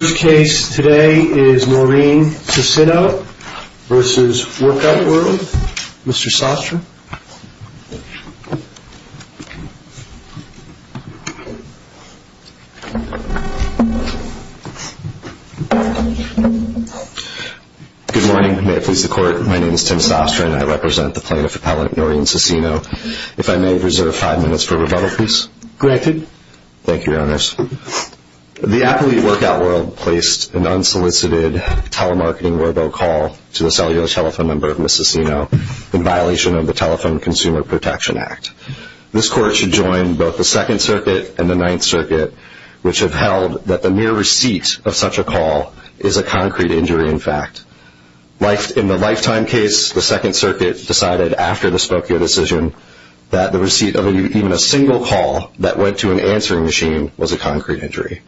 Your case today is Noreen Sassino v. Work Out World. Mr. Sastra. Good morning. May it please the Court, my name is Tim Sastra and I represent the plaintiff appellant Noreen Sassino. If I may reserve five minutes for rebuttal, please. Thank you, Your Honors. The appellate Work Out World placed an unsolicited telemarketing robocall to the cellular telephone number of Ms. Sassino in violation of the Telephone Consumer Protection Act. This Court should join both the Second Circuit and the Ninth Circuit, which have held that the mere receipt of such a call is a concrete injury in fact. In the Lifetime case, the Second Circuit decided after the Spokane decision that the receipt of even a single call that went to an answering machine was a concrete injury.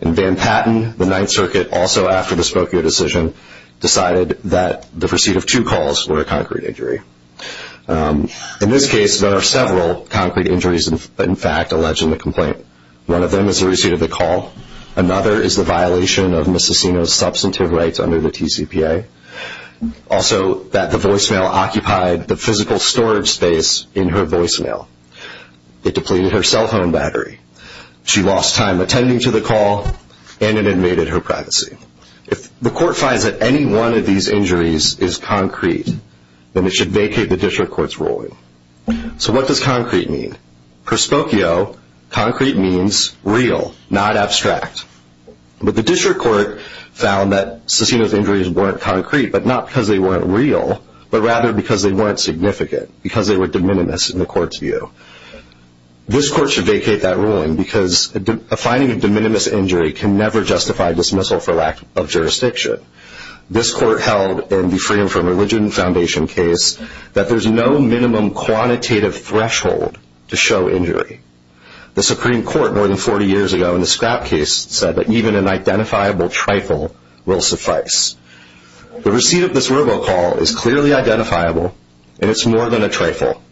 In Van Patten, the Ninth Circuit, also after the Spokane decision, decided that the receipt of two calls were a concrete injury. In this case, there are several concrete injuries in fact alleged in the complaint. One of them is the receipt of the call. Another is the violation of Ms. Sassino's substantive rights under the TCPA. Also, that the voicemail occupied the physical storage space in her voicemail. It depleted her cell phone battery. She lost time attending to the call and it invaded her privacy. If the Court finds that any one of these injuries is concrete, then it should vacate the District Court's ruling. So what does concrete mean? Per Spokio, concrete means real, not abstract. But the District Court found that Sassino's injuries weren't concrete, but not because they weren't real, but rather because they weren't significant, because they were de minimis in the Court's view. This Court should vacate that ruling because a finding of de minimis injury can never justify dismissal for lack of jurisdiction. This Court held in the Freedom from Religion Foundation case that there's no minimum quantitative threshold to show injury. The Supreme Court more than 40 years ago in the Scrapp case said that even an identifiable trifle will suffice. The receipt of this robocall is clearly identifiable and it's more than a trifle.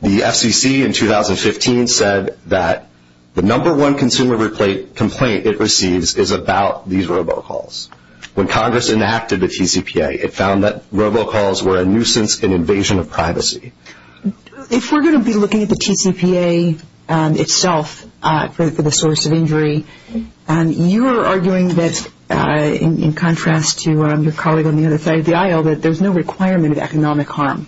The FCC in 2015 said that the number one consumer complaint it receives is about these robocalls. When Congress enacted the TCPA, it found that robocalls were a nuisance and invasion of privacy. If we're going to be looking at the TCPA itself for the source of injury, you're arguing that, in contrast to your colleague on the other side of the aisle, that there's no requirement of economic harm.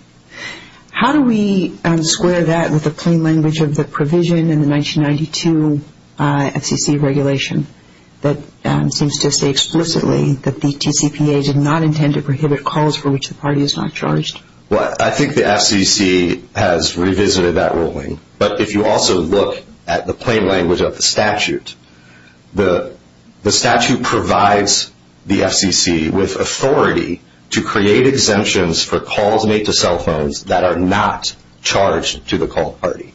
How do we square that with the plain language of the provision in the 1992 FCC regulation that seems to say explicitly that the TCPA did not intend to prohibit calls for which the party is not charged? Well, I think the FCC has revisited that ruling. But if you also look at the plain language of the statute, the statute provides the FCC with authority to create exemptions for calls made to cell phones that are not charged to the call party.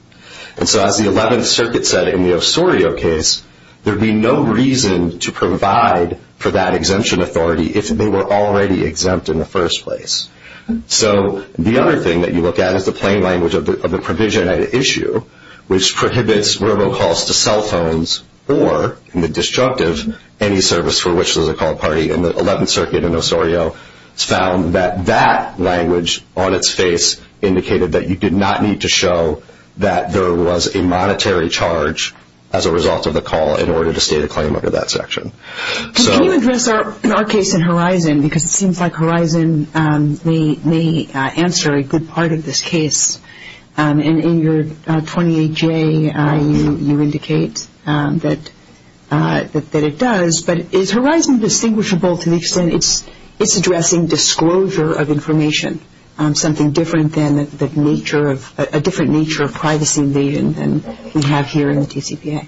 And so as the 11th Circuit said in the Osorio case, there'd be no reason to provide for that exemption authority if they were already exempt in the first place. So the other thing that you look at is the plain language of the provision at issue, which prohibits robocalls to cell phones or, in the disjunctive, any service for which there's a call party. And the 11th Circuit in Osorio found that that language on its face indicated that you did not need to show that there was a monetary charge as a result of the call in order to state a claim under that section. Can you address our case in Horizon? Because it seems like Horizon may answer a good part of this case. And in your 28-J, you indicate that it does. But is Horizon distinguishable to the extent it's addressing disclosure of information, something different than a different nature of privacy invasion than we have here in the TCPA?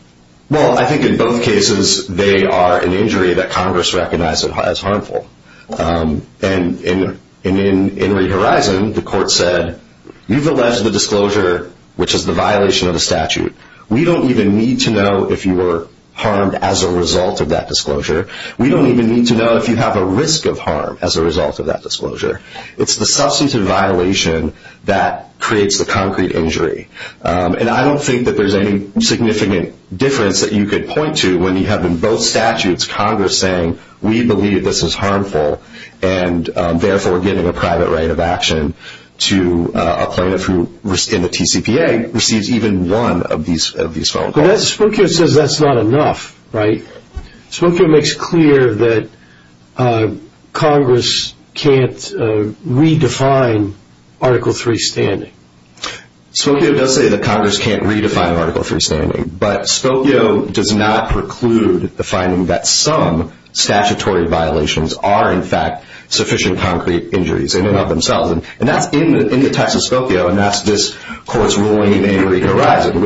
Well, I think in both cases they are an injury that Congress recognizes as harmful. And in Horizon, the court said, you've alleged the disclosure, which is the violation of the statute. We don't even need to know if you were harmed as a result of that disclosure. We don't even need to know if you have a risk of harm as a result of that disclosure. It's the substantive violation that creates the concrete injury. And I don't think that there's any significant difference that you could point to when you have in both statutes Congress saying, we believe this is harmful and therefore giving a private right of action to a plaintiff in the TCPA receives even one of these phone calls. But Spokio says that's not enough, right? Spokio makes clear that Congress can't redefine Article III standing. Spokio does say that Congress can't redefine Article III standing. But Spokio does not preclude the finding that some statutory violations are, in fact, sufficient concrete injuries in and of themselves. And that's in the text of Spokio, and that's this court's ruling in Antarctica Horizon.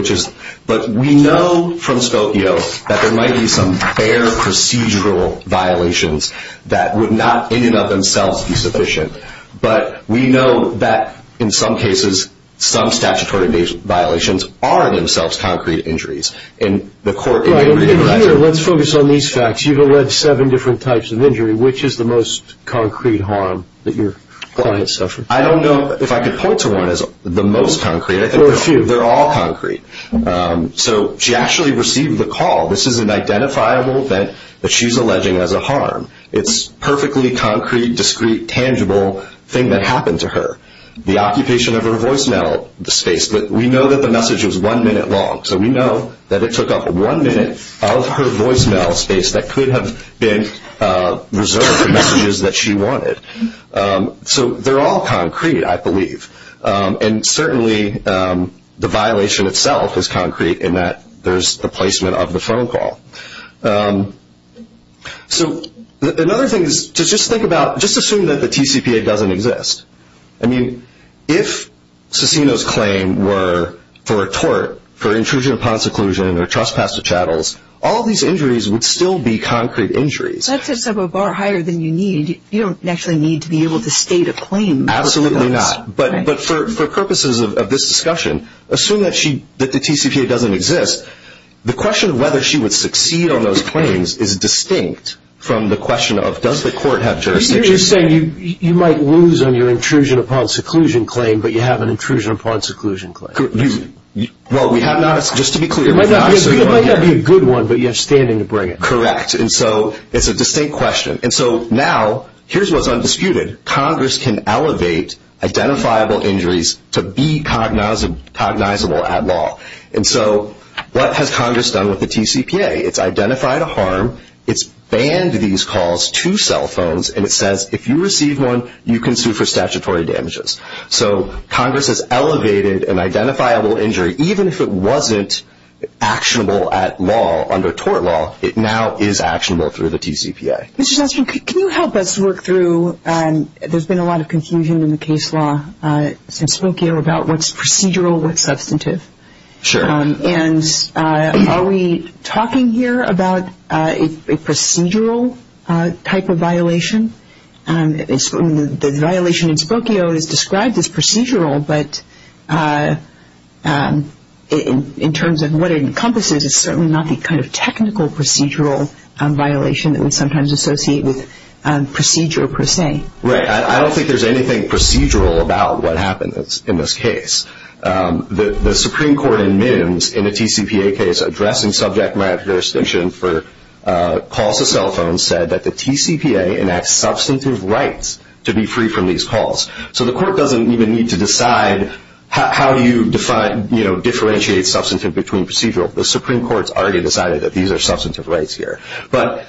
But we know from Spokio that there might be some fair procedural violations that would not in and of themselves be sufficient. But we know that, in some cases, some statutory violations are in themselves concrete injuries. In the court in Antarctica Horizon. Let's focus on these facts. You've alleged seven different types of injury. Which is the most concrete harm that your client suffered? I don't know if I could point to one as the most concrete. There are a few. They're all concrete. So she actually received the call. This is an identifiable event that she's alleging as a harm. It's a perfectly concrete, discrete, tangible thing that happened to her. The occupation of her voicemail space. We know that the message was one minute long, so we know that it took up one minute of her voicemail space that could have been reserved for messages that she wanted. So they're all concrete, I believe. And certainly the violation itself is concrete in that there's the placement of the phone call. So another thing is to just assume that the TCPA doesn't exist. I mean, if Cicino's claim were for a tort, for intrusion upon seclusion, or trespass to chattels, all these injuries would still be concrete injuries. So that's a bar higher than you need. You don't actually need to be able to state a claim. Absolutely not. But for purposes of this discussion, assume that the TCPA doesn't exist. The question of whether she would succeed on those claims is distinct from the question of does the court have jurisdiction. You're saying you might lose on your intrusion upon seclusion claim, but you have an intrusion upon seclusion claim. Well, we have not. Just to be clear. It might not be a good one, but you have standing to bring it. Correct. And so it's a distinct question. And so now here's what's undisputed. Congress can elevate identifiable injuries to be cognizable at law. And so what has Congress done with the TCPA? It's identified a harm, it's banned these calls to cell phones, and it says if you receive one, you can sue for statutory damages. So Congress has elevated an identifiable injury. Even if it wasn't actionable at law under tort law, it now is actionable through the TCPA. Mr. Sussman, can you help us work through, there's been a lot of confusion in the case law in Spokio about what's procedural, what's substantive. Sure. And are we talking here about a procedural type of violation? The violation in Spokio is described as procedural, but in terms of what it encompasses is certainly not the kind of technical procedural violation that we sometimes associate with procedural per se. Right. I don't think there's anything procedural about what happens in this case. The Supreme Court in Mims in a TCPA case addressing subject matter jurisdiction for calls to cell phones said that the TCPA enacts substantive rights to be free from these calls. So the court doesn't even need to decide how you differentiate substantive between procedural. The Supreme Court has already decided that these are substantive rights here. But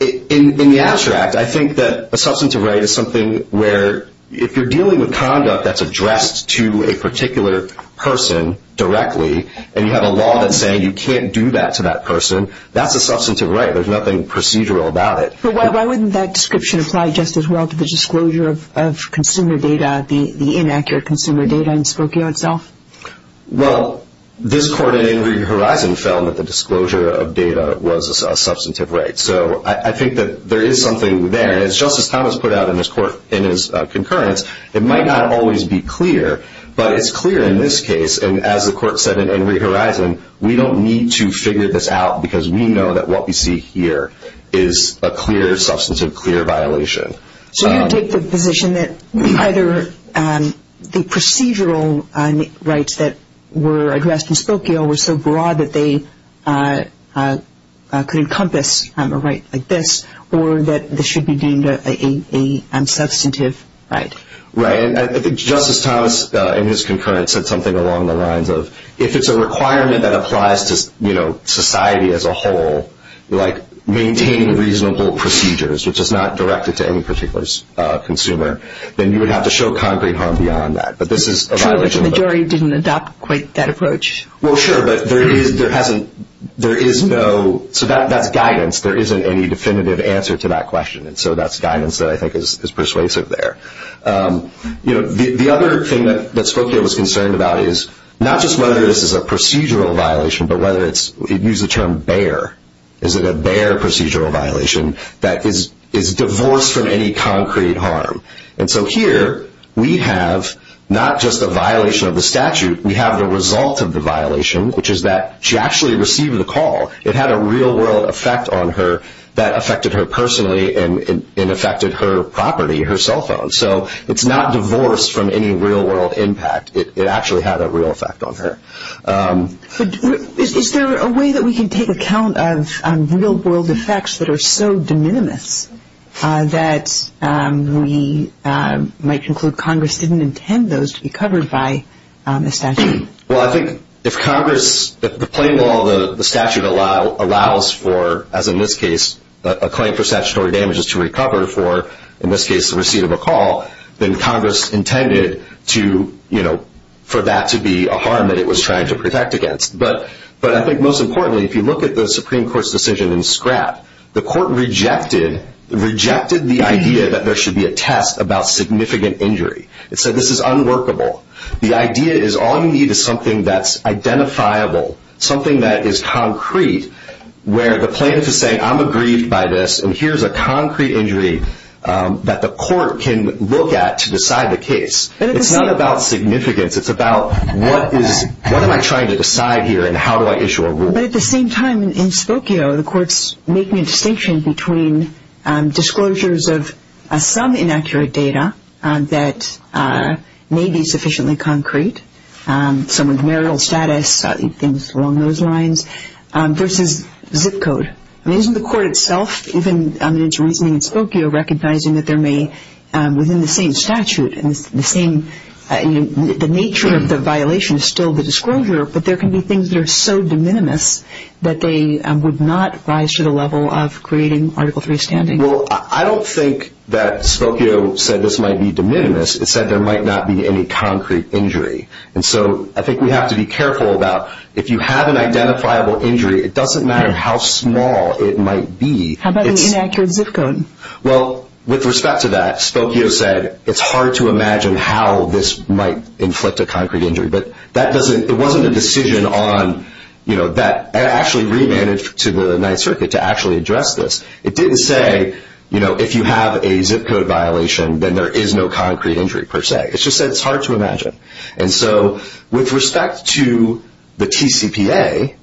in the abstract, I think that a substantive right is something where if you're dealing with conduct that's addressed to a particular person directly, and you have a law that's saying you can't do that to that person, that's a substantive right. There's nothing procedural about it. But why wouldn't that description apply just as well to the disclosure of consumer data, the inaccurate consumer data in Spokio itself? Well, this court in Henry Horizon found that the disclosure of data was a substantive right. So I think that there is something there. And as Justice Thomas put out in his concurrence, it might not always be clear, but it's clear in this case. And as the court said in Henry Horizon, we don't need to figure this out because we know that what we see here is a clear substantive clear violation. So you take the position that either the procedural rights that were addressed in Spokio were so broad that they could encompass a right like this, or that this should be deemed a substantive right? Right. And I think Justice Thomas in his concurrence said something along the lines of, if it's a requirement that applies to society as a whole, like maintaining reasonable procedures, which is not directed to any particular consumer, then you would have to show concrete harm beyond that. But this is a violation. True, but the jury didn't adopt quite that approach. Well, sure, but there is no – so that's guidance. There isn't any definitive answer to that question. And so that's guidance that I think is persuasive there. The other thing that Spokio was concerned about is not just whether this is a procedural violation, but whether it's – it used the term bare. Is it a bare procedural violation that is divorced from any concrete harm? And so here we have not just a violation of the statute, we have the result of the violation, which is that she actually received the call. It had a real-world effect on her that affected her personally and affected her property, her cell phone. So it's not divorced from any real-world impact. It actually had a real effect on her. Is there a way that we can take account of real-world effects that are so de minimis that we might conclude Congress didn't intend those to be covered by the statute? Well, I think if Congress – if the plain law of the statute allows for, as in this case, a claim for statutory damages to recover for, in this case, the receipt of a call, then Congress intended for that to be a harm that it was trying to protect against. But I think most importantly, if you look at the Supreme Court's decision in Scrapp, the Court rejected the idea that there should be a test about significant injury. It said this is unworkable. The idea is all you need is something that's identifiable, something that is concrete, where the plaintiff is saying, I'm aggrieved by this, and here's a concrete injury that the court can look at to decide the case. It's not about significance. It's about what am I trying to decide here, and how do I issue a rule? But at the same time, in Spokio, the Court's making a distinction between disclosures of some inaccurate data that may be sufficiently concrete, someone's marital status, things along those lines, versus zip code. I mean, isn't the Court itself, even in its reasoning in Spokio, recognizing that there may, within the same statute, and the nature of the violation is still the disclosure, but there can be things that are so de minimis that they would not rise to the level of creating Article III standing? Well, I don't think that Spokio said this might be de minimis. It said there might not be any concrete injury. And so I think we have to be careful about if you have an identifiable injury, it doesn't matter how small it might be. How about an inaccurate zip code? Well, with respect to that, Spokio said it's hard to imagine how this might inflict a concrete injury, but it wasn't a decision that actually remanded to the Ninth Circuit to actually address this. It didn't say if you have a zip code violation, then there is no concrete injury per se. It just said it's hard to imagine. And so with respect to the TCPA,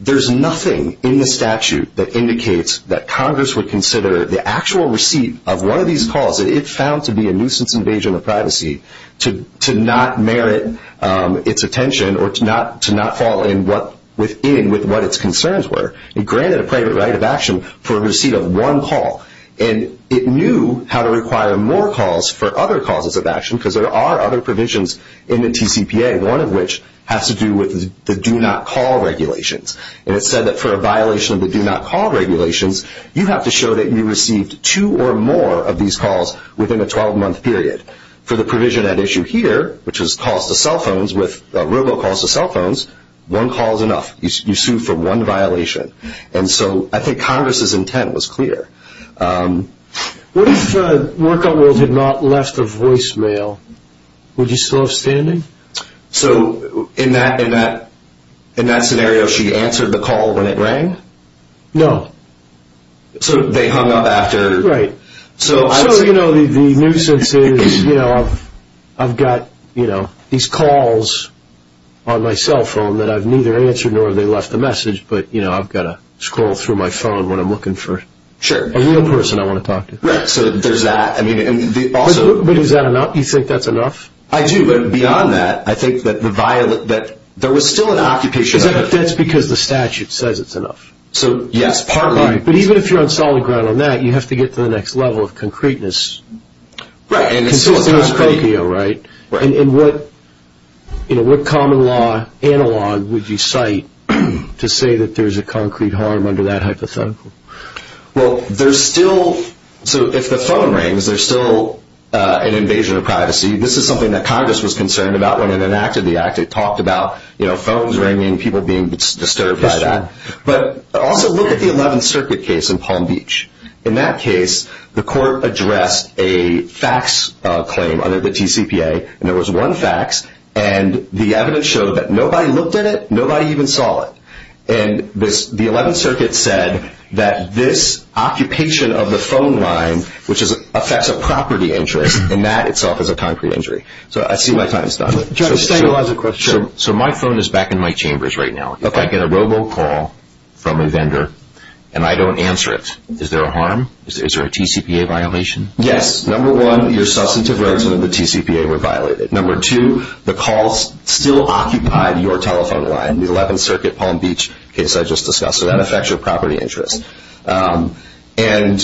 there's nothing in the statute that indicates that Congress would consider the actual receipt of one of these calls that it found to be a nuisance invasion of privacy to not merit its attention or to not fall in with what its concerns were. It granted a private right of action for a receipt of one call, and it knew how to require more calls for other causes of action because there are other provisions in the TCPA, one of which has to do with the do-not-call regulations. And it said that for a violation of the do-not-call regulations, you have to show that you received two or more of these calls within a 12-month period. For the provision at issue here, which is calls to cell phones, with robocalls to cell phones, one call is enough. You sue for one violation. And so I think Congress's intent was clear. What if Workout World had not left a voicemail? Would you still have standing? So in that scenario, she answered the call when it rang? No. So they hung up after? Right. So the nuisance is I've got these calls on my cell phone that I've neither answered nor they left a message, but, you know, I've got to scroll through my phone when I'm looking for a real person I want to talk to. Right. So there's that. But is that enough? You think that's enough? I do. But beyond that, I think that there was still an occupation. That's because the statute says it's enough. So, yes, partly. Right. But even if you're on solid ground on that, you have to get to the next level of concreteness. Right. And what common law analog would you cite to say that there's a concrete harm under that hypothetical? Well, there's still, so if the phone rings, there's still an invasion of privacy. This is something that Congress was concerned about when it enacted the act. It talked about, you know, phones ringing, people being disturbed by that. But also look at the 11th Circuit case in Palm Beach. In that case, the court addressed a fax claim under the TCPA, and there was one fax, and the evidence showed that nobody looked at it, nobody even saw it. And the 11th Circuit said that this occupation of the phone line, which affects a property interest, and that itself is a concrete injury. So I see my time's up. Try to stabilize the question. So my phone is back in my chambers right now. If I get a robocall from a vendor and I don't answer it, is there a harm? Is there a TCPA violation? Yes. Number one, your substantive rights under the TCPA were violated. Number two, the calls still occupied your telephone line. The 11th Circuit Palm Beach case I just discussed. So that affects your property interest. And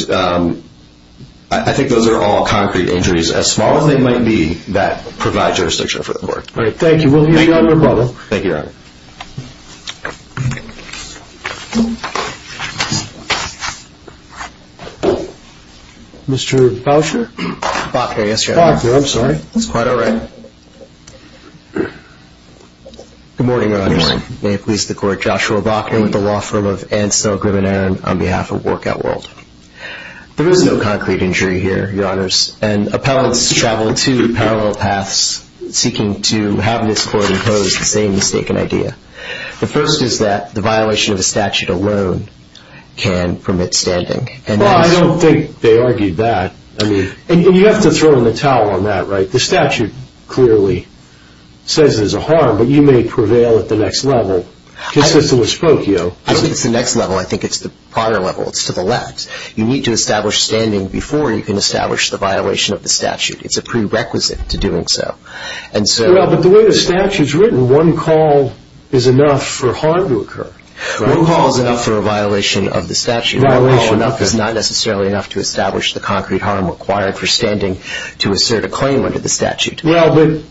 I think those are all concrete injuries, as small as they might be, that provide jurisdiction for the court. Thank you. We'll hear from you, brother. Thank you, Your Honor. Mr. Boucher? Boucher, yes, Your Honor. Boucher, I'm sorry. It's quite all right. Good morning, Your Honors. Good morning. May it please the Court, Joshua Boucher with the law firm of Ansel Grimm and Aaron on behalf of Workout World. There is no concrete injury here, Your Honors, and appellants travel two parallel paths seeking to have this court impose the same mistaken idea. The first is that the violation of the statute alone can permit standing. Well, I don't think they argued that. I mean, and you have to throw in the towel on that, right? The statute clearly says there's a harm, but you may prevail at the next level. I think it's the next level. I think it's the prior level. It's to the left. You need to establish standing before you can establish the violation of the statute. It's a prerequisite to doing so. Well, but the way the statute is written, one call is enough for harm to occur. One call is enough for a violation of the statute. One call is not necessarily enough to establish the concrete harm required for standing to assert a claim under the statute. Well, but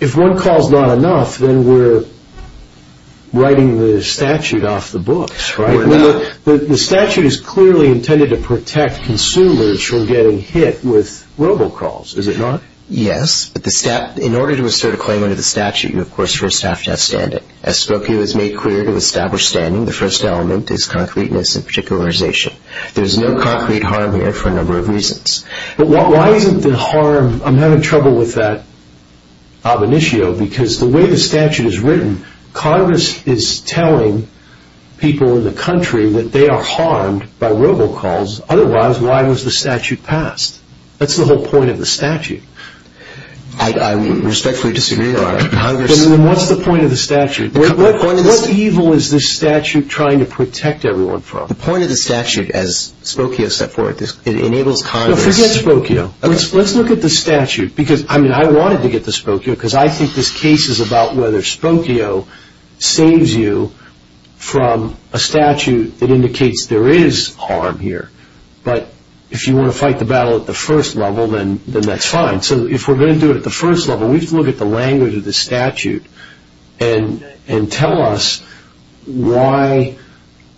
if one call is not enough, then we're writing the statute off the books, right? The statute is clearly intended to protect consumers from getting hit with robocalls, is it not? Yes, but in order to assert a claim under the statute, you, of course, first have to have standing. As Spokio has made clear, to establish standing, the first element is concreteness and particularization. There's no concrete harm here for a number of reasons. But why isn't the harm—I'm having trouble with that, Abinicio, because the way the statute is written, Congress is telling people in the country that they are harmed by robocalls. Otherwise, why was the statute passed? That's the whole point of the statute. I respectfully disagree. Then what's the point of the statute? What evil is this statute trying to protect everyone from? The point of the statute, as Spokio set forth, it enables Congress— Forget Spokio. Let's look at the statute, because, I mean, I wanted to get to Spokio, because I think this case is about whether Spokio saves you from a statute that indicates there is harm here. But if you want to fight the battle at the first level, then that's fine. So if we're going to do it at the first level, we have to look at the language of the statute and tell us why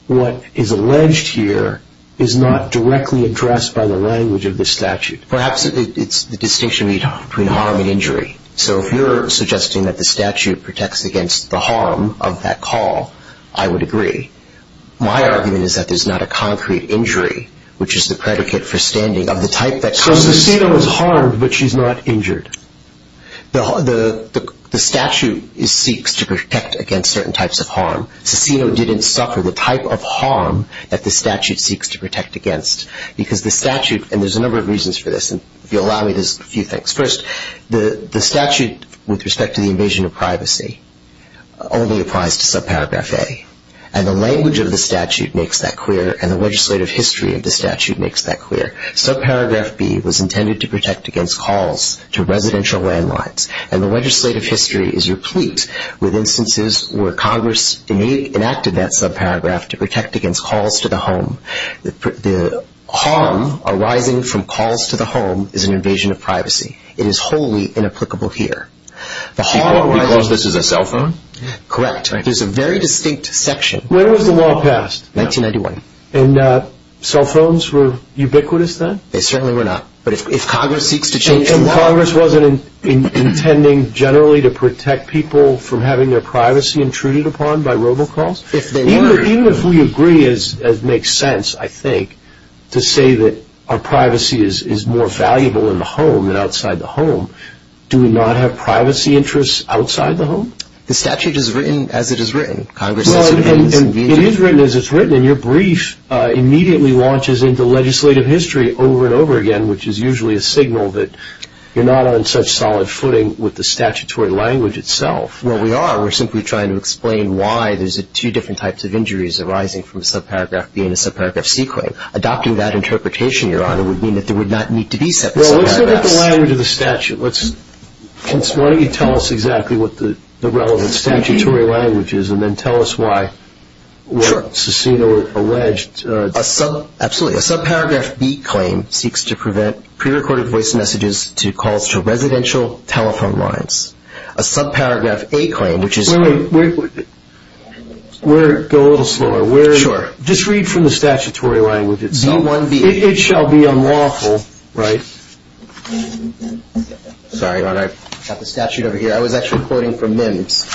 what is alleged here is not directly addressed by the language of the statute. Perhaps it's the distinction between harm and injury. So if you're suggesting that the statute protects against the harm of that call, I would agree. My argument is that there's not a concrete injury, which is the predicate for standing, of the type that— So Cicino is harmed, but she's not injured. The statute seeks to protect against certain types of harm. Cicino didn't suffer the type of harm that the statute seeks to protect against, because the statute— and there's a number of reasons for this, and if you'll allow me, there's a few things. First, the statute with respect to the invasion of privacy only applies to subparagraph A, and the language of the statute makes that clear, and the legislative history of the statute makes that clear. Subparagraph B was intended to protect against calls to residential landlines, and the legislative history is replete with instances where Congress enacted that subparagraph to protect against calls to the home. The harm arising from calls to the home is an invasion of privacy. It is wholly inapplicable here. Because this is a cell phone? Correct. There's a very distinct section— When was the law passed? 1991. And cell phones were ubiquitous then? They certainly were not. But if Congress seeks to change the law— And Congress wasn't intending generally to protect people from having their privacy intruded upon by robocalls? If they were— Even if we agree, as makes sense, I think, to say that our privacy is more valuable in the home than outside the home, do we not have privacy interests outside the home? The statute is written as it is written. Congress— It is written as it's written, and your brief immediately launches into legislative history over and over again, which is usually a signal that you're not on such solid footing with the statutory language itself. Well, we are. We're simply trying to explain why there's two different types of injuries arising from subparagraph B and a subparagraph C claim. Adopting that interpretation, Your Honor, would mean that there would not need to be subparagraphs. Well, let's look at the language of the statute. Why don't you tell us exactly what the relevant statutory language is, and then tell us why where Cicino alleged— Absolutely. A subparagraph B claim seeks to prevent prerecorded voice messages to calls to residential telephone lines. A subparagraph A claim, which is— Wait, wait. Go a little slower. Sure. Just read from the statutory language itself. B-1-B. It shall be unlawful, right? Sorry, Your Honor. I've got the statute over here. I was actually quoting from MIMS.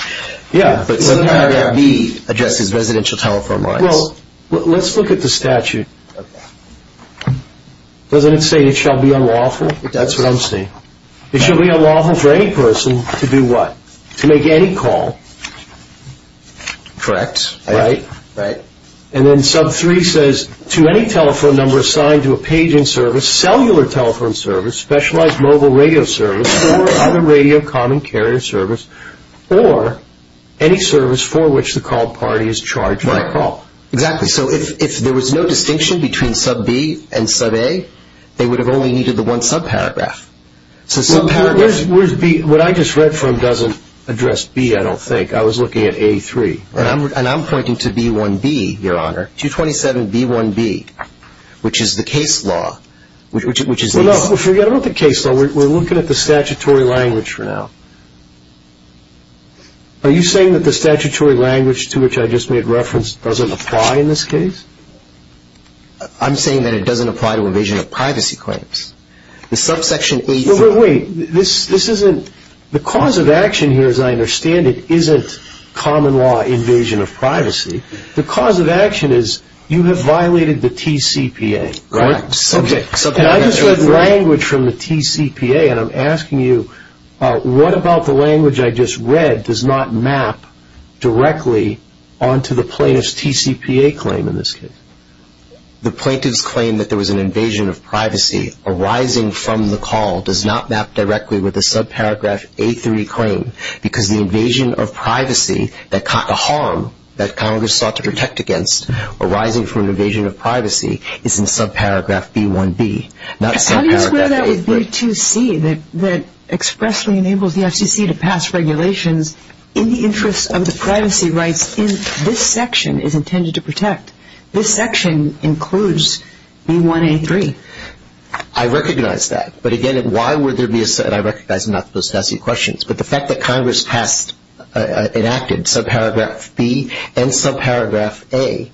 Yeah. But subparagraph B addresses residential telephone lines. Well, let's look at the statute. Okay. Doesn't it say it shall be unlawful? It does. It should be unlawful for any person to do what? To make any call. Correct. Right? Right. And then sub-3 says, to any telephone number assigned to a paging service, cellular telephone service, specialized mobile radio service, or other radio common carrier service, or any service for which the call party is charged for a call. Right. Exactly. So if there was no distinction between sub-B and sub-A, they would have only needed the one subparagraph. So subparagraph— Where's B? What I just read from doesn't address B, I don't think. I was looking at A-3. And I'm pointing to B-1-B, Your Honor, 227-B-1-B, which is the case law, which is A-3. Well, no, forget about the case law. We're looking at the statutory language for now. Are you saying that the statutory language to which I just made reference doesn't apply in this case? I'm saying that it doesn't apply to evasion of privacy claims. The subsection A-3— The cause of action is you have violated the TCPA. Right. And I just read language from the TCPA, and I'm asking you, what about the language I just read does not map directly onto the plaintiff's TCPA claim in this case? The plaintiff's claim that there was an invasion of privacy arising from the call does not map directly with the subparagraph A-3 claim because the invasion of privacy, the harm that Congress sought to protect against arising from an invasion of privacy, is in subparagraph B-1-B, not subparagraph— How do you square that with B-2-C that expressly enables the FCC to pass regulations in the interest of the privacy rights in this section is intended to protect? This section includes B-1-A-3. I recognize that. But, again, why would there be a—and I recognize I'm not supposed to ask you questions. But the fact that Congress passed—enacted subparagraph B and subparagraph A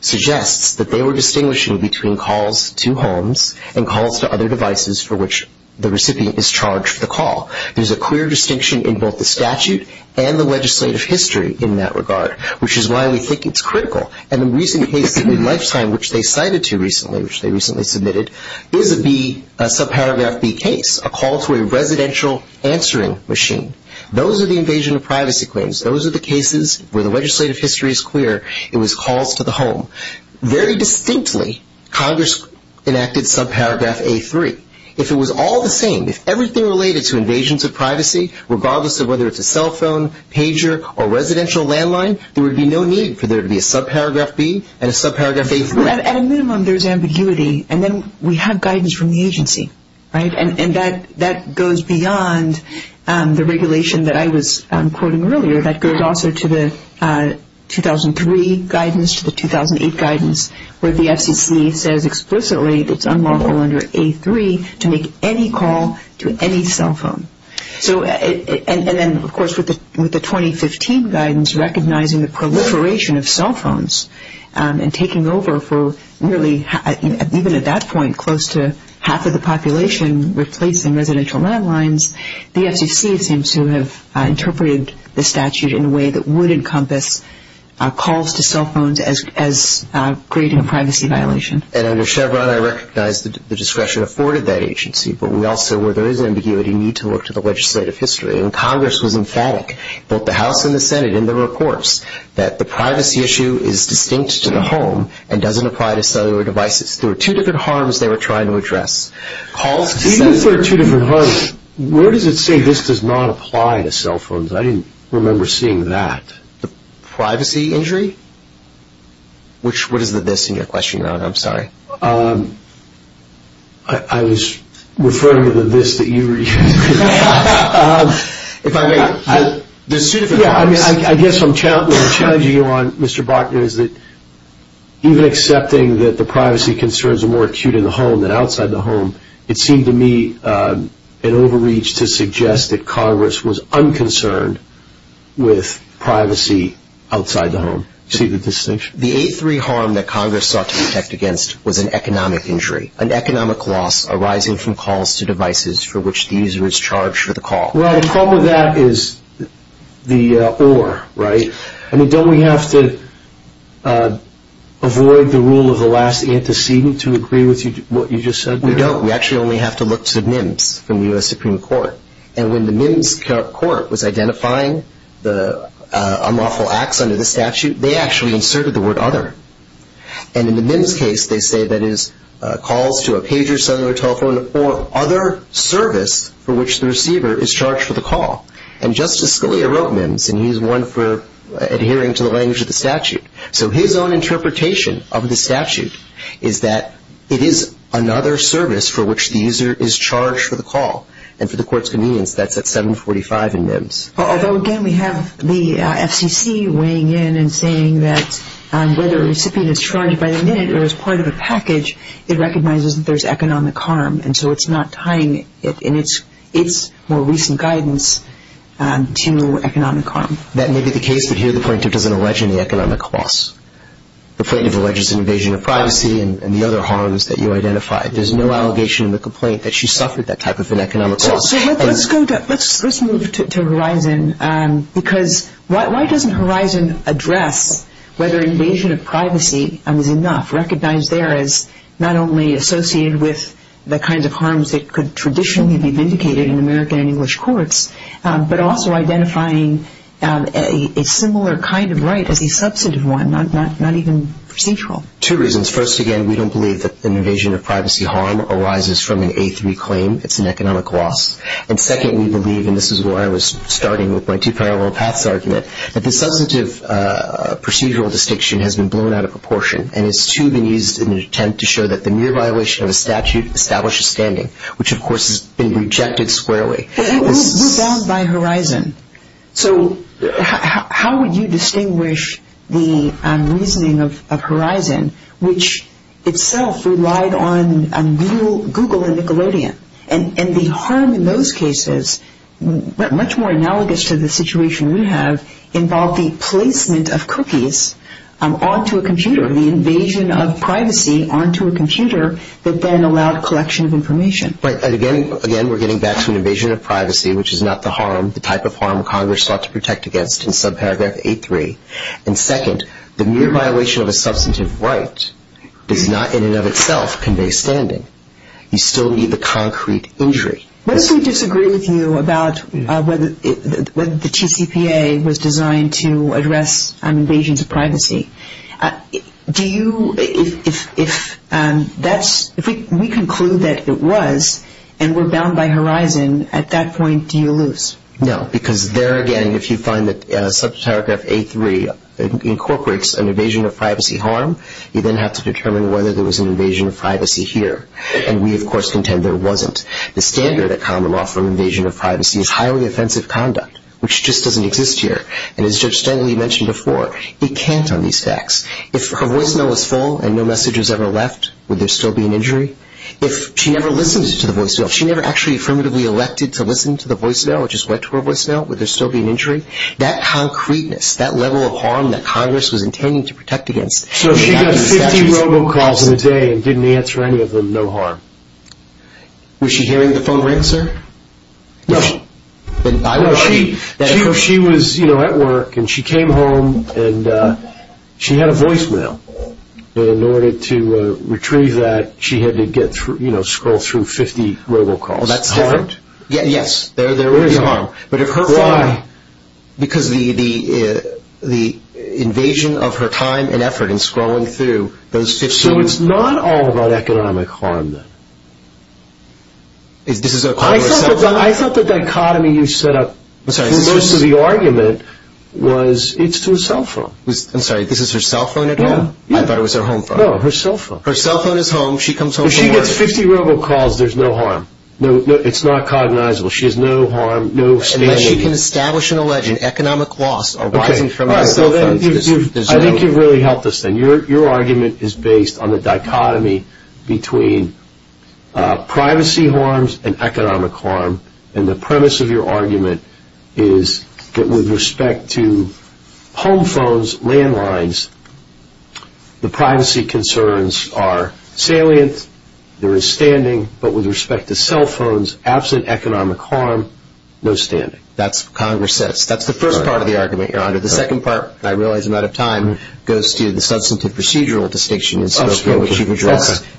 suggests that they were distinguishing between calls to homes and calls to other devices for which the recipient is charged for the call. There's a clear distinction in both the statute and the legislative history in that regard, which is why we think it's critical. And the recent case in Lifetime, which they cited to recently, which they recently submitted, is a subparagraph B case, a call to a residential answering machine. Those are the invasion of privacy claims. Those are the cases where the legislative history is clear. It was calls to the home. Very distinctly, Congress enacted subparagraph A-3. If it was all the same, if everything related to invasions of privacy, regardless of whether it's a cell phone, pager, or residential landline, there would be no need for there to be a subparagraph B and a subparagraph A-3. At a minimum, there's ambiguity. And then we have guidance from the agency, right? And that goes beyond the regulation that I was quoting earlier. That goes also to the 2003 guidance, to the 2008 guidance, where the FCC says explicitly that it's unlawful under A-3 to make any call to any cell phone. And then, of course, with the 2015 guidance recognizing the proliferation of cell phones and taking over for nearly, even at that point, close to half of the population replacing residential landlines, the FCC seems to have interpreted the statute in a way that would encompass calls to cell phones as creating a privacy violation. And under Chevron, I recognize that the discretion afforded that agency, but we also, where there is ambiguity, need to look to the legislative history. that the privacy issue is distinct to the home and doesn't apply to cellular devices. There are two different harms they were trying to address. Even if there are two different harms, where does it say this does not apply to cell phones? I didn't remember seeing that. The privacy injury? What is the this in your question, Ron? I'm sorry. I was referring to the this that you were using. I guess what I'm challenging you on, Mr. Brockner, is that even accepting that the privacy concerns are more acute in the home than outside the home, it seemed to me an overreach to suggest that Congress was unconcerned with privacy outside the home. Do you see the distinction? The A-3 harm that Congress sought to protect against was an economic injury, an economic loss arising from calls to devices for which the user is charged for the call. Well, the problem with that is the or, right? I mean, don't we have to avoid the rule of the last antecedent to agree with what you just said there? We don't. We actually only have to look to MIMS from the U.S. Supreme Court. And when the MIMS court was identifying the unlawful acts under the statute, they actually inserted the word other. And in the MIMS case, they say that is calls to a pager, cellular telephone, or other service for which the receiver is charged for the call. And Justice Scalia wrote MIMS, and he's one for adhering to the language of the statute. So his own interpretation of the statute is that it is another service for which the user is charged for the call. And for the Court's convenience, that's at 745 in MIMS. Although, again, we have the FCC weighing in and saying that whether a recipient is charged by the minute or as part of a package, it recognizes that there's economic harm. And so it's not tying it in its more recent guidance to economic harm. That may be the case, but here the plaintiff doesn't allege any economic loss. The plaintiff alleges invasion of privacy and the other harms that you identified. There's no allegation in the complaint that she suffered that type of an economic loss. So let's move to Horizon, because why doesn't Horizon address whether invasion of privacy is enough, recognized there as not only associated with the kinds of harms that could traditionally be vindicated in American and English courts, but also identifying a similar kind of right as a substantive one, not even procedural? Two reasons. First, again, we don't believe that an invasion of privacy harm arises from an A3 claim. It's an economic loss. And second, we believe, and this is where I was starting with my two parallel paths argument, that the substantive procedural distinction has been blown out of proportion and has too been used in an attempt to show that the mere violation of a statute establishes standing, which, of course, has been rejected squarely. Move down by Horizon. So how would you distinguish the reasoning of Horizon, which itself relied on Google and Nickelodeon? And the harm in those cases, much more analogous to the situation we have, involved the placement of cookies onto a computer, the invasion of privacy onto a computer, that then allowed collection of information. Right. And again, we're getting back to an invasion of privacy, which is not the harm, the type of harm Congress sought to protect against in subparagraph A3. And second, the mere violation of a substantive right does not in and of itself convey standing. You still need the concrete injury. Let's say we disagree with you about whether the TCPA was designed to address an invasion of privacy. If we conclude that it was and we're bound by Horizon, at that point, do you lose? No, because there again, if you find that subparagraph A3 incorporates an invasion of privacy harm, you then have to determine whether there was an invasion of privacy here. And we, of course, contend there wasn't. The standard of common law for an invasion of privacy is highly offensive conduct, which just doesn't exist here. And as Judge Stanley mentioned before, it can't on these facts. If her voicemail was full and no message was ever left, would there still be an injury? If she never listened to the voicemail, if she never actually affirmatively elected to listen to the voicemail or just went to her voicemail, would there still be an injury? That concreteness, that level of harm that Congress was intending to protect against. So if she got 50 robocalls in a day and didn't answer any of them, no harm? Was she hearing the phone ring, sir? No. She was at work, and she came home, and she had a voicemail. In order to retrieve that, she had to scroll through 50 robocalls. That's different. Yes, there is harm. Why? Because the invasion of her time and effort in scrolling through those 50 robocalls. So it's not all about economic harm, then? I thought the dichotomy you set up for most of the argument was it's to a cell phone. I'm sorry, this is her cell phone at home? I thought it was her home phone. No, her cell phone. Her cell phone is home. She comes home from work. If she gets 50 robocalls, there's no harm. It's not cognizable. She has no harm, no standing. Unless she can establish and allege an economic loss arising from her cell phone. I think you've really helped us, then. Your argument is based on the dichotomy between privacy harms and economic harm, and the premise of your argument is that with respect to home phones, landlines, the privacy concerns are salient, there is standing, but with respect to cell phones, absent economic harm, no standing. That's what Congress says. The second part, and I realize I'm out of time, goes to the substantive procedural distinction. Absolutely.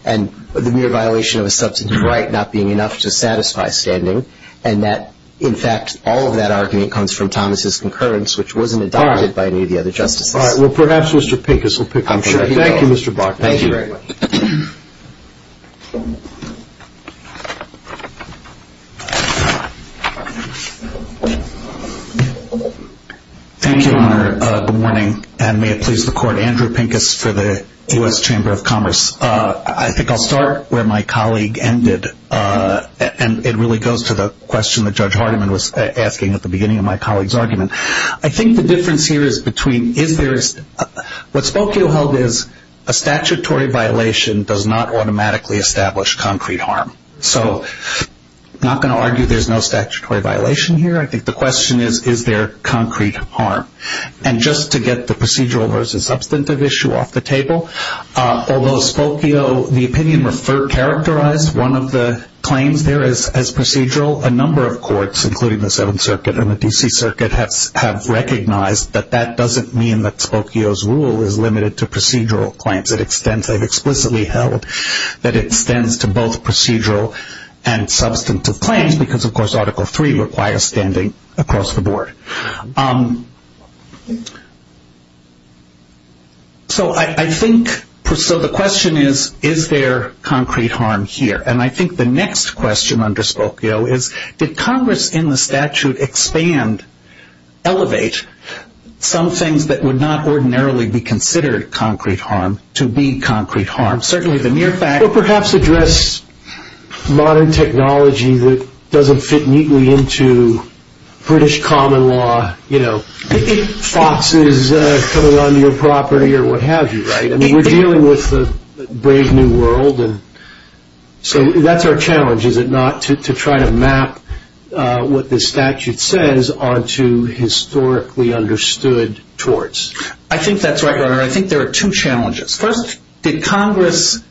And the mere violation of a substantive right not being enough to satisfy standing, and that, in fact, all of that argument comes from Thomas' concurrence, which wasn't adopted by any of the other justices. All right. Well, perhaps Mr. Pincus will pick up. I'm sure he will. Thank you, Mr. Block. Thank you very much. Thank you, Your Honor. Good morning, and may it please the Court. Andrew Pincus for the U.S. Chamber of Commerce. I think I'll start where my colleague ended, and it really goes to the question that Judge Hardiman was asking at the beginning of my colleague's argument. I think the difference here is between what Spokio held is a statutory violation does not automatically establish concrete harm. So I'm not going to argue there's no statutory violation here. I think the question is, is there concrete harm? And just to get the procedural versus substantive issue off the table, although Spokio, the opinion characterized one of the claims there as procedural, a number of courts, including the Seventh Circuit and the D.C. Circuit, have recognized that that doesn't mean that Spokio's rule is limited to procedural claims. They've explicitly held that it extends to both procedural and substantive claims, because, of course, Article III requires standing across the board. So I think the question is, is there concrete harm here? And I think the next question under Spokio is, did Congress in the statute expand, elevate, some things that would not ordinarily be considered concrete harm to be concrete harm? Certainly the mere fact- Or perhaps address modern technology that doesn't fit neatly into British common law, you know, foxes coming onto your property or what have you, right? I mean, we're dealing with the brave new world, and so that's our challenge, is it not, to try to map what the statute says onto historically understood torts. I think that's right, Your Honor. I think there are two challenges. First, did Congress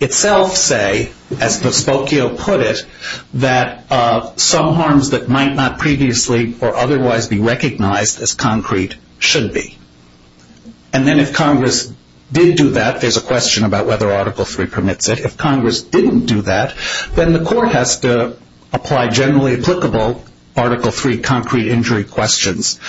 itself say, as Spokio put it, that some harms that might not previously or otherwise be recognized as concrete should be? And then if Congress did do that, there's a question about whether Article III permits it. If Congress didn't do that, then the court has to apply generally applicable Article III concrete injury questions,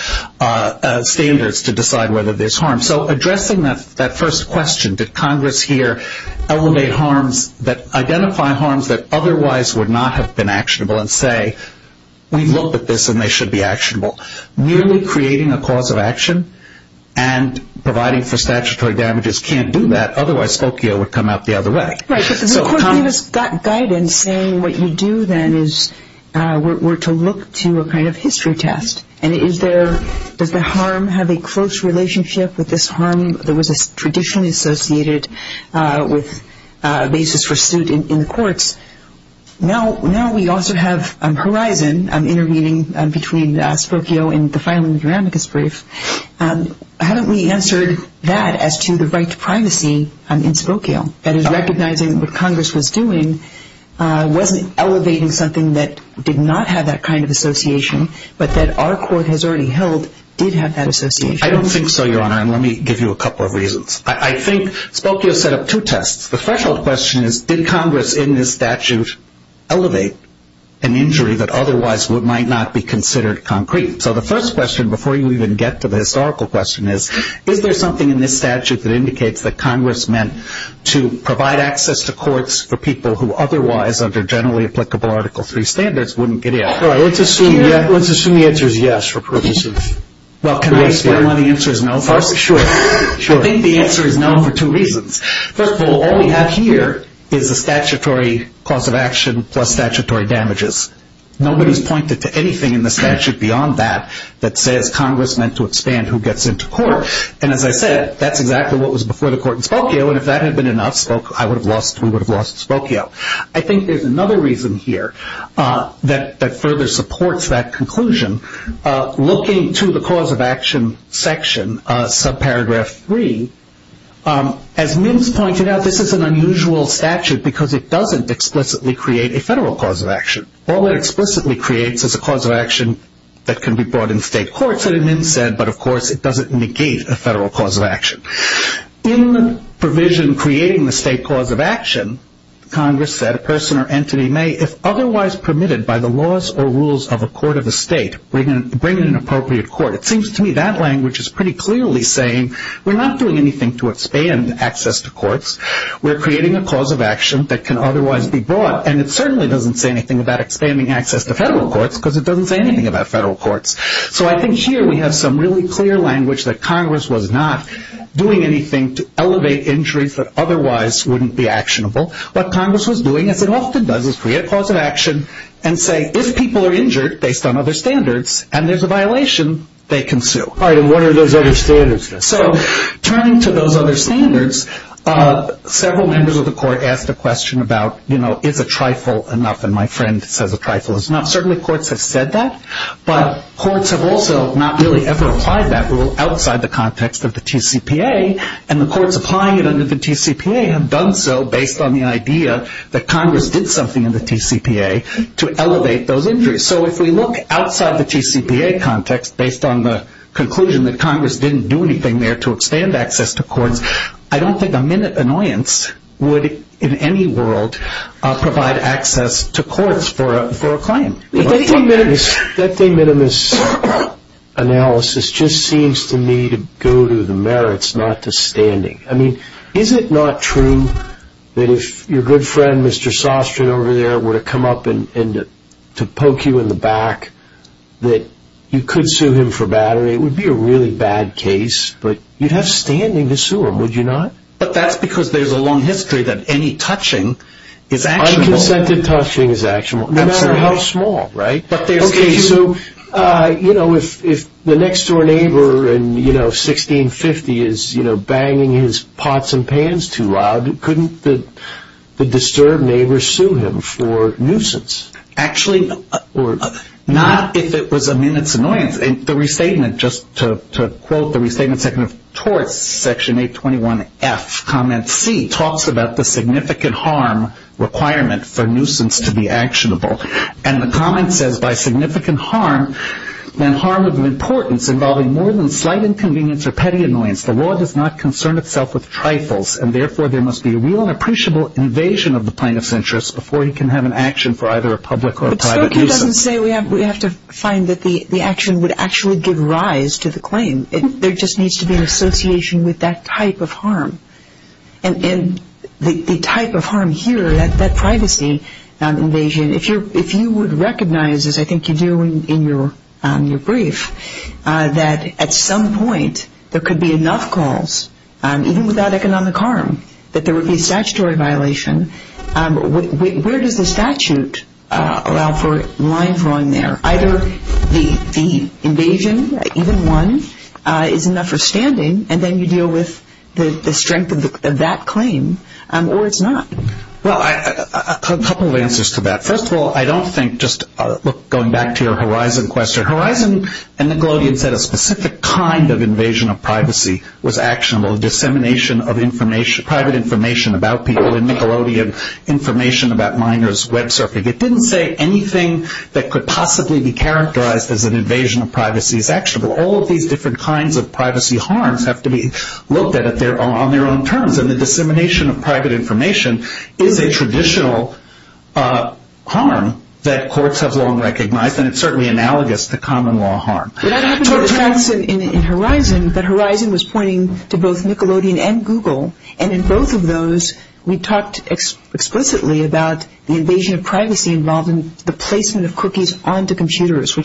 standards to decide whether there's harm. So addressing that first question, did Congress here elevate harms, identify harms that otherwise would not have been actionable, merely creating a cause of action and providing for statutory damages can't do that, otherwise Spokio would come out the other way. Right, but the court gave us guidance saying what you do then is we're to look to a kind of history test. And is there, does the harm have a close relationship with this harm? There was a traditionally associated with basis for suit in the courts. Now we also have Horizon intervening between Spokio and the filing of the Ramicus brief. Haven't we answered that as to the right to privacy in Spokio? That is, recognizing what Congress was doing wasn't elevating something that did not have that kind of association, but that our court has already held did have that association. I don't think so, Your Honor, and let me give you a couple of reasons. I think Spokio set up two tests. The threshold question is did Congress in this statute elevate an injury that otherwise might not be considered concrete? So the first question before you even get to the historical question is, is there something in this statute that indicates that Congress meant to provide access to courts for people who otherwise under generally applicable Article III standards wouldn't get in? Let's assume the answer is yes for purposes. Well, can I explain why the answer is no first? Sure. I think the answer is no for two reasons. First of all, all we have here is a statutory cause of action plus statutory damages. Nobody's pointed to anything in the statute beyond that that says Congress meant to expand who gets into court, and as I said, that's exactly what was before the court in Spokio, and if that had been enough, we would have lost Spokio. I think there's another reason here that further supports that conclusion. Looking to the cause of action section, subparagraph 3, as Mims pointed out, this is an unusual statute because it doesn't explicitly create a federal cause of action. All it explicitly creates is a cause of action that can be brought in state courts, and as Mims said, but of course it doesn't negate a federal cause of action. In the provision creating the state cause of action, Congress said, if otherwise permitted by the laws or rules of a court of a state, bring in an appropriate court. It seems to me that language is pretty clearly saying we're not doing anything to expand access to courts. We're creating a cause of action that can otherwise be brought, and it certainly doesn't say anything about expanding access to federal courts because it doesn't say anything about federal courts. So I think here we have some really clear language that Congress was not doing anything to elevate injuries that otherwise wouldn't be actionable. What Congress was doing, as it often does, is create a cause of action and say, if people are injured based on other standards and there's a violation, they can sue. All right, and what are those other standards? So turning to those other standards, several members of the court asked a question about, you know, is a trifle enough, and my friend says a trifle is enough. Certainly courts have said that, but courts have also not really ever applied that rule outside the context of the TCPA, and the courts applying it under the TCPA may have done so based on the idea that Congress did something in the TCPA to elevate those injuries. So if we look outside the TCPA context based on the conclusion that Congress didn't do anything there to expand access to courts, I don't think a minute annoyance would, in any world, provide access to courts for a claim. The de minimis analysis just seems to me to go to the merits, not to standing. I mean, is it not true that if your good friend Mr. Sostrin over there were to come up and to poke you in the back that you could sue him for battery? It would be a really bad case, but you'd have standing to sue him, would you not? But that's because there's a long history that any touching is actionable. Unconsented touching is actionable, no matter how small, right? Okay, so if the next-door neighbor in 1650 is banging his pots and pans too loud, couldn't the disturbed neighbor sue him for nuisance? Actually, not if it was a minute's annoyance. The restatement, just to quote the restatement section of TORS, section 821F, comment C, talks about the significant harm requirement for nuisance to be actionable. And the comment says, by significant harm, then harm of importance involving more than slight inconvenience or petty annoyance. The law does not concern itself with trifles, and therefore there must be a real and appreciable invasion of the plaintiff's interest before he can have an action for either a public or a private nuisance. But Stoker doesn't say we have to find that the action would actually give rise to the claim. There just needs to be an association with that type of harm. And the type of harm here, that privacy invasion, if you would recognize, as I think you do in your brief, that at some point there could be enough calls, even without economic harm, that there would be a statutory violation, where does the statute allow for line drawing there? Either the invasion, even one, is enough for standing, and then you deal with the strength of that claim, or it's not. Well, a couple of answers to that. First of all, I don't think, just going back to your Horizon question, Horizon and Nickelodeon said a specific kind of invasion of privacy was actionable. Dissemination of private information about people in Nickelodeon, information about minors, web surfing. It didn't say anything that could possibly be characterized as an invasion of privacy is actionable. All of these different kinds of privacy harms have to be looked at on their own terms, and the dissemination of private information is a traditional harm that courts have long recognized, and it's certainly analogous to common law harm. It's not just in Horizon, but Horizon was pointing to both Nickelodeon and Google, and in both of those we talked explicitly about the invasion of privacy involved in the placement of cookies onto computers,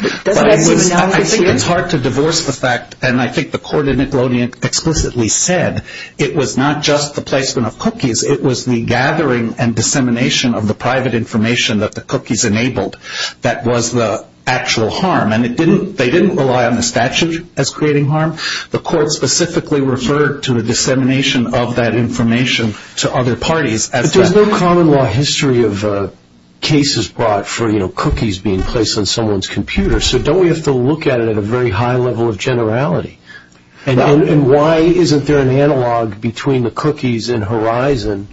I think it's hard to divorce the fact, and I think the court in Nickelodeon explicitly said, it was not just the placement of cookies, it was the gathering and dissemination of the private information that the cookies enabled that was the actual harm, and they didn't rely on the statute as creating harm. The court specifically referred to a dissemination of that information to other parties. But there's no common law history of cases brought for cookies being placed on someone's computer, so don't we have to look at it at a very high level of generality? And why isn't there an analog between the cookies in Horizon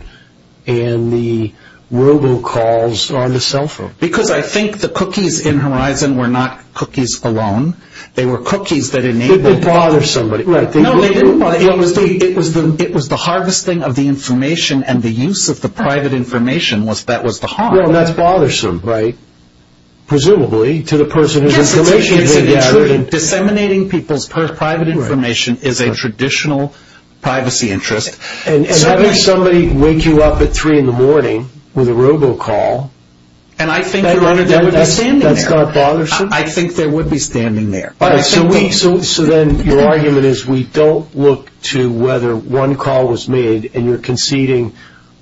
and the robocalls on the cell phone? Because I think the cookies in Horizon were not cookies alone, they were cookies that enabled... It didn't bother somebody. It was the harvesting of the information and the use of the private information that was the harm. Well, that's bothersome, right? Presumably, to the person whose information they gathered. Disseminating people's private information is a traditional privacy interest. And having somebody wake you up at three in the morning with a robocall... And I think there would be standing there. That's not bothersome? I think there would be standing there. So then your argument is we don't look to whether one call was made, and you're conceding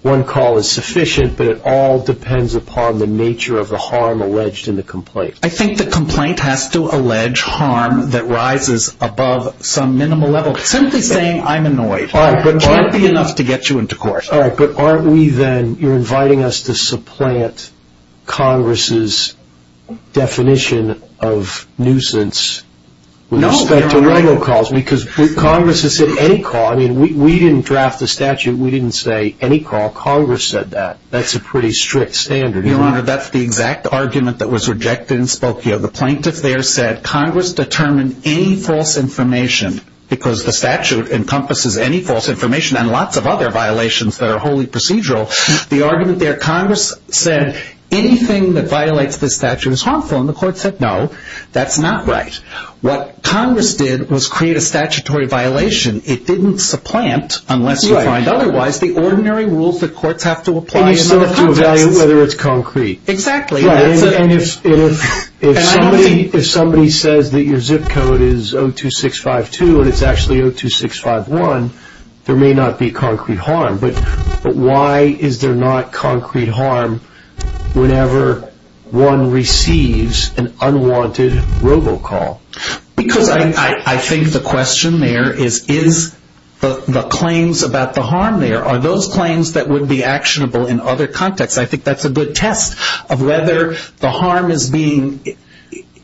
one call is sufficient, but it all depends upon the nature of the harm alleged in the complaint. I think the complaint has to allege harm that rises above some minimal level. Simply saying, I'm annoyed, can't be enough to get you into court. All right, but aren't we then... You're inviting us to supplant Congress' definition of nuisance with respect to robocalls. Because Congress has said any call. I mean, we didn't draft the statute. We didn't say any call. Congress said that. That's a pretty strict standard, isn't it? Your Honor, that's the exact argument that was rejected in Spokio. The plaintiff there said Congress determined any false information because the statute encompasses any false information and lots of other violations that are wholly procedural. The argument there, Congress said anything that violates this statute is harmful, and the court said no, that's not right. What Congress did was create a statutory violation. It didn't supplant unless you find otherwise. The ordinary rules that courts have to apply in other contexts... And you still have to evaluate whether it's concrete. Exactly. And if somebody says that your zip code is 02652 and it's actually 02651, there may not be concrete harm. But why is there not concrete harm whenever one receives an unwanted robocall? Because I think the question there is, is the claims about the harm there, are those claims that would be actionable in other contexts? I think that's a good test of whether the harm is being...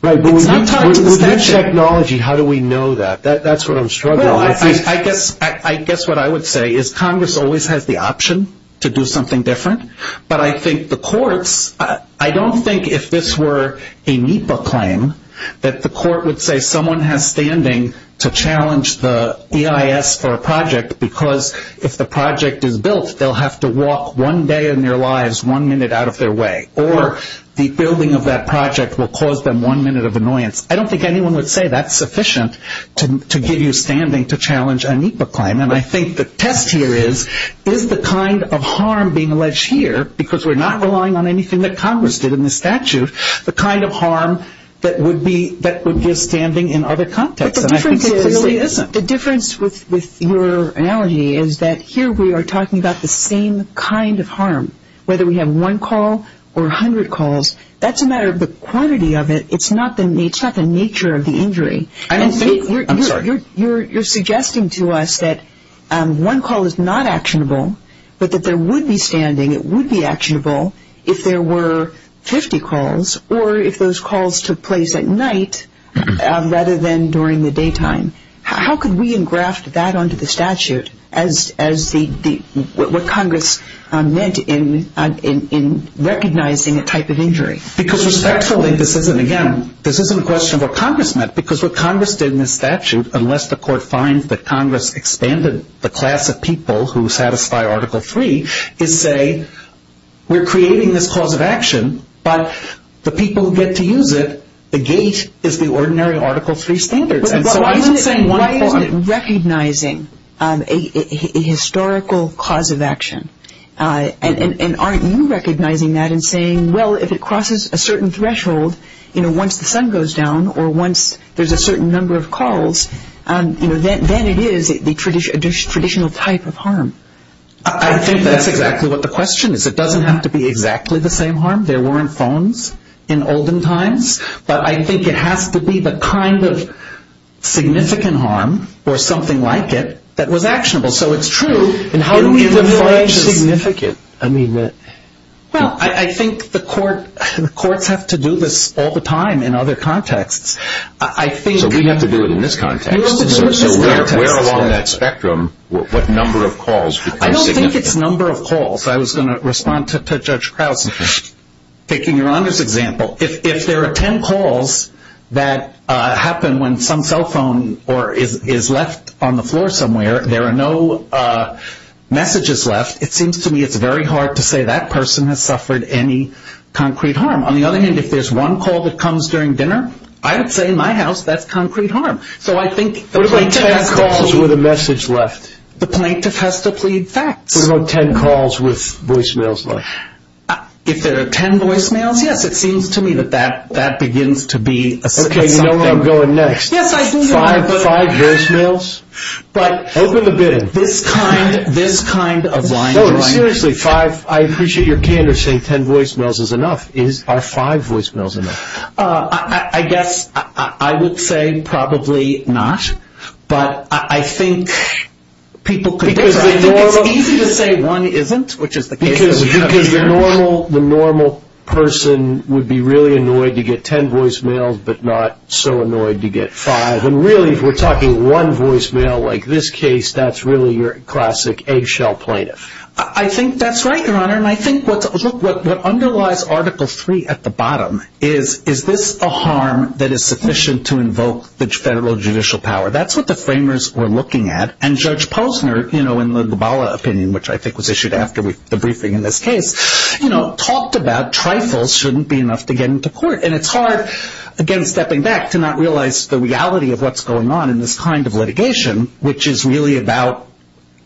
Right, but with this technology, how do we know that? That's what I'm struggling with. Well, I guess what I would say is Congress always has the option to do something different, but I think the courts... I don't think if this were a NEPA claim that the court would say someone has standing to challenge the EIS for a project because if the project is built, they'll have to walk one day in their lives one minute out of their way, or the building of that project will cause them one minute of annoyance. I don't think anyone would say that's sufficient to give you standing to challenge a NEPA claim. And I think the test here is, is the kind of harm being alleged here, because we're not relying on anything that Congress did in the statute, the kind of harm that would give standing in other contexts? And I think it clearly isn't. The difference with your analogy is that here we are talking about the same kind of harm, whether we have one call or 100 calls. That's a matter of the quantity of it. It's not the nature of the injury. I don't think... I'm sorry. You're suggesting to us that one call is not actionable, but that there would be standing, it would be actionable if there were 50 calls, or if those calls took place at night rather than during the daytime. How could we engraft that onto the statute as what Congress meant in recognizing a type of injury? Because respectfully, this isn't, again, this isn't a question of what Congress meant, because what Congress did in the statute, unless the court finds that Congress expanded the class of people who satisfy Article III, is say, we're creating this cause of action, but the people who get to use it, the gate is the ordinary Article III standards. Why isn't it recognizing a historical cause of action? And aren't you recognizing that and saying, well, if it crosses a certain threshold, once the sun goes down or once there's a certain number of calls, then it is a traditional type of harm. I think that's exactly what the question is. It doesn't have to be exactly the same harm. There weren't phones in olden times. But I think it has to be the kind of significant harm or something like it that was actionable. So it's true. And how do we define significant? Well, I think the courts have to do this all the time in other contexts. So we have to do it in this context. So where along that spectrum, what number of calls would be significant? I don't think it's number of calls. I was going to respond to Judge Krause. Taking Your Honor's example, if there are ten calls that happen when some cell phone is left on the floor somewhere, there are no messages left, it seems to me it's very hard to say that person has suffered any concrete harm. On the other hand, if there's one call that comes during dinner, I would say in my house that's concrete harm. So I think the plaintiff has to plead. What about ten calls with a message left? The plaintiff has to plead facts. What about ten calls with voicemails left? If there are ten voicemails, yes, it seems to me that that begins to be something. Okay, you know where I'm going next. Yes, I do, Your Honor. Five voicemails? Open the bidding. This kind of line drawing. No, seriously, five. I appreciate your candor saying ten voicemails is enough. Are five voicemails enough? I guess I would say probably not. But I think people could differ. I think it's easy to say one isn't, which is the case. Because the normal person would be really annoyed to get ten voicemails but not so annoyed to get five. And really if we're talking one voicemail like this case, that's really your classic eggshell plaintiff. I think that's right, Your Honor. And I think what underlies Article III at the bottom is, is this a harm that is sufficient to invoke the federal judicial power? That's what the framers were looking at. And Judge Posner, you know, in the Gabbala opinion, which I think was issued after the briefing in this case, you know, talked about trifles shouldn't be enough to get into court. And it's hard, again, stepping back to not realize the reality of what's going on in this kind of litigation, which is really about,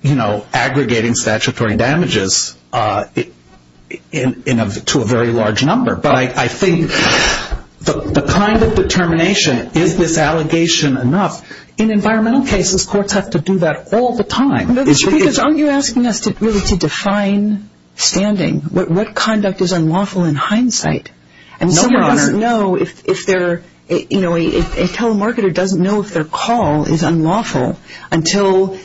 you know, aggregating statutory damages to a very large number. But I think the kind of determination, is this allegation enough? In environmental cases, courts have to do that all the time. Because aren't you asking us really to define standing? What conduct is unlawful in hindsight? No, Your Honor. And somebody doesn't know if they're, you know, a telemarketer doesn't know if their call is unlawful until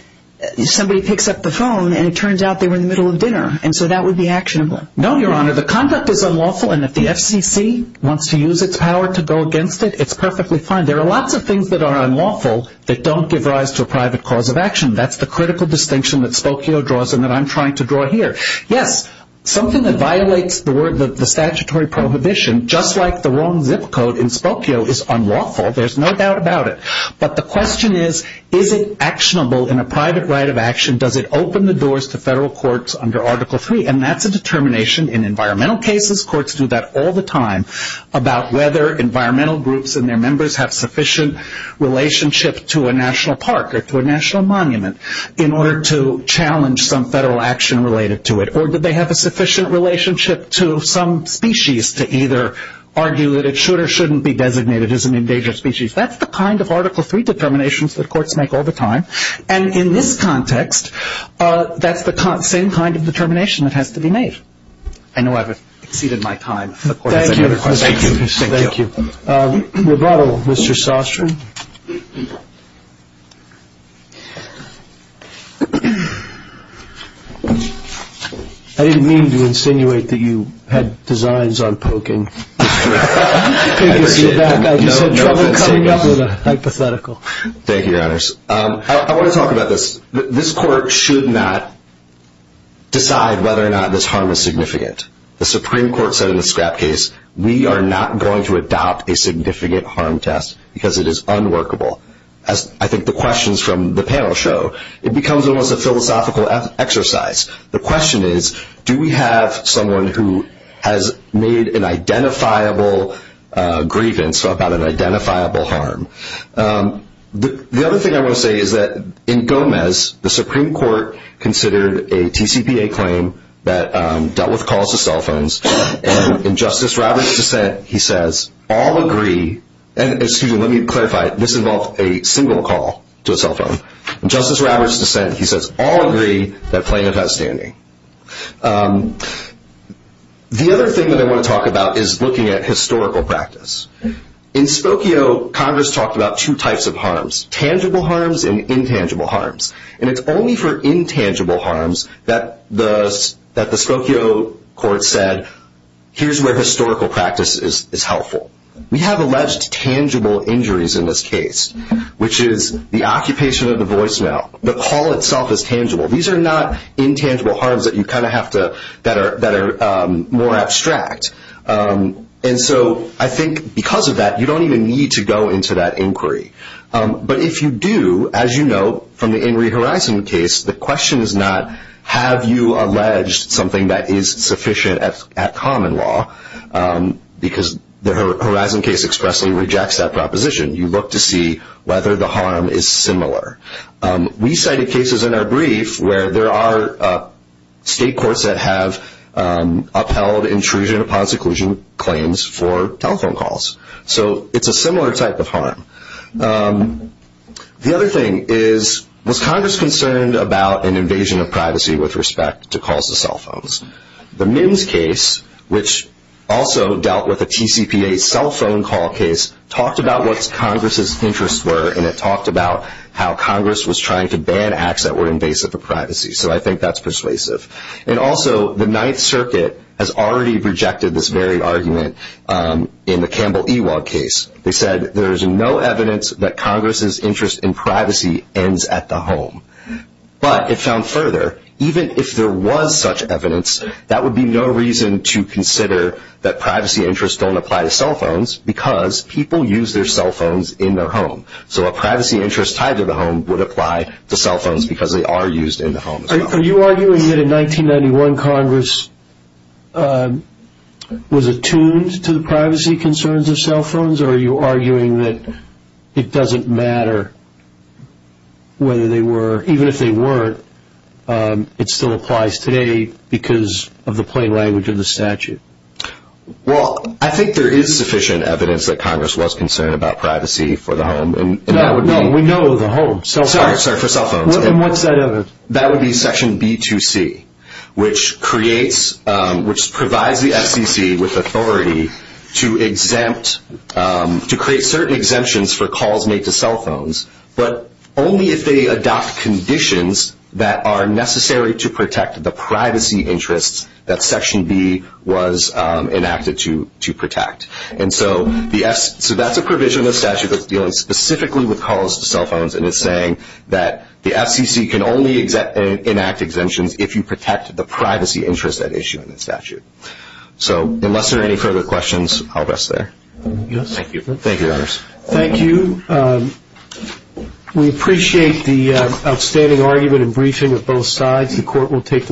somebody picks up the phone and it turns out they were in the middle of dinner. And so that would be actionable. No, Your Honor. The conduct is unlawful and if the FCC wants to use its power to go against it, it's perfectly fine. And there are lots of things that are unlawful that don't give rise to a private cause of action. That's the critical distinction that Spokio draws and that I'm trying to draw here. Yes, something that violates the statutory prohibition, just like the wrong zip code in Spokio, is unlawful. There's no doubt about it. But the question is, is it actionable in a private right of action? Does it open the doors to federal courts under Article III? And that's a determination in environmental cases. Courts do that all the time about whether environmental groups and their members have sufficient relationship to a national park or to a national monument in order to challenge some federal action related to it. Or do they have a sufficient relationship to some species to either argue that it should or shouldn't be designated as an endangered species? That's the kind of Article III determinations that courts make all the time. And in this context, that's the same kind of determination that has to be made. I know I've exceeded my time. Thank you. Thank you. Thank you. Rebuttal, Mr. Sostrin. I didn't mean to insinuate that you had designs on poking. I just had trouble coming up with a hypothetical. Thank you, Your Honors. I want to talk about this. This court should not decide whether or not this harm is significant. The Supreme Court said in the Scrap Case, we are not going to adopt a significant harm test because it is unworkable. As I think the questions from the panel show, it becomes almost a philosophical exercise. The question is, do we have someone who has made an identifiable grievance about an identifiable harm? The other thing I want to say is that in Gomez, the Supreme Court considered a TCPA claim that dealt with calls to cell phones, and in Justice Roberts' dissent, he says, all agree that plaintiff has standing. The other thing that I want to talk about is looking at historical practice. In Spokio, Congress talked about two types of harms, tangible harms and intangible harms. It's only for intangible harms that the Spokio court said, here's where historical practice is helpful. We have alleged tangible injuries in this case, which is the occupation of the voicemail. The call itself is tangible. These are not intangible harms that are more abstract. And so I think because of that, you don't even need to go into that inquiry. But if you do, as you know from the Henry Horizon case, the question is not have you alleged something that is sufficient at common law, because the Horizon case expressly rejects that proposition. You look to see whether the harm is similar. We cited cases in our brief where there are state courts that have upheld intrusion upon seclusion claims for telephone calls. So it's a similar type of harm. The other thing is was Congress concerned about an invasion of privacy with respect to calls to cell phones? The MIMS case, which also dealt with a TCPA cell phone call case, talked about what Congress's interests were, and it talked about how Congress was trying to ban acts that were invasive of privacy. So I think that's persuasive. And also the Ninth Circuit has already rejected this very argument in the Campbell-Iwag case. They said there is no evidence that Congress's interest in privacy ends at the home. But it found further, even if there was such evidence, that would be no reason to consider that privacy interests don't apply to cell phones because people use their cell phones in their home. So a privacy interest tied to the home would apply to cell phones because they are used in the home as well. Are you arguing that in 1991 Congress was attuned to the privacy concerns of cell phones, or are you arguing that it doesn't matter whether they were, even if they weren't, it still applies today because of the plain language of the statute? Well, I think there is sufficient evidence that Congress was concerned about privacy for the home. No, we know the home, cell phones. Sorry, sorry, for cell phones. And what's that evidence? That would be Section B2C, which provides the FCC with authority to create certain exemptions for calls made to cell phones, but only if they adopt conditions that are necessary to protect the privacy interests that Section B was enacted to protect. And so that's a provision in the statute that's dealing specifically with calls to cell phones and is saying that the FCC can only enact exemptions if you protect the privacy interests at issue in the statute. So unless there are any further questions, I'll rest there. Thank you. Thank you, Your Honors. Thank you. We appreciate the outstanding argument and briefing of both sides. The Court will take the motion.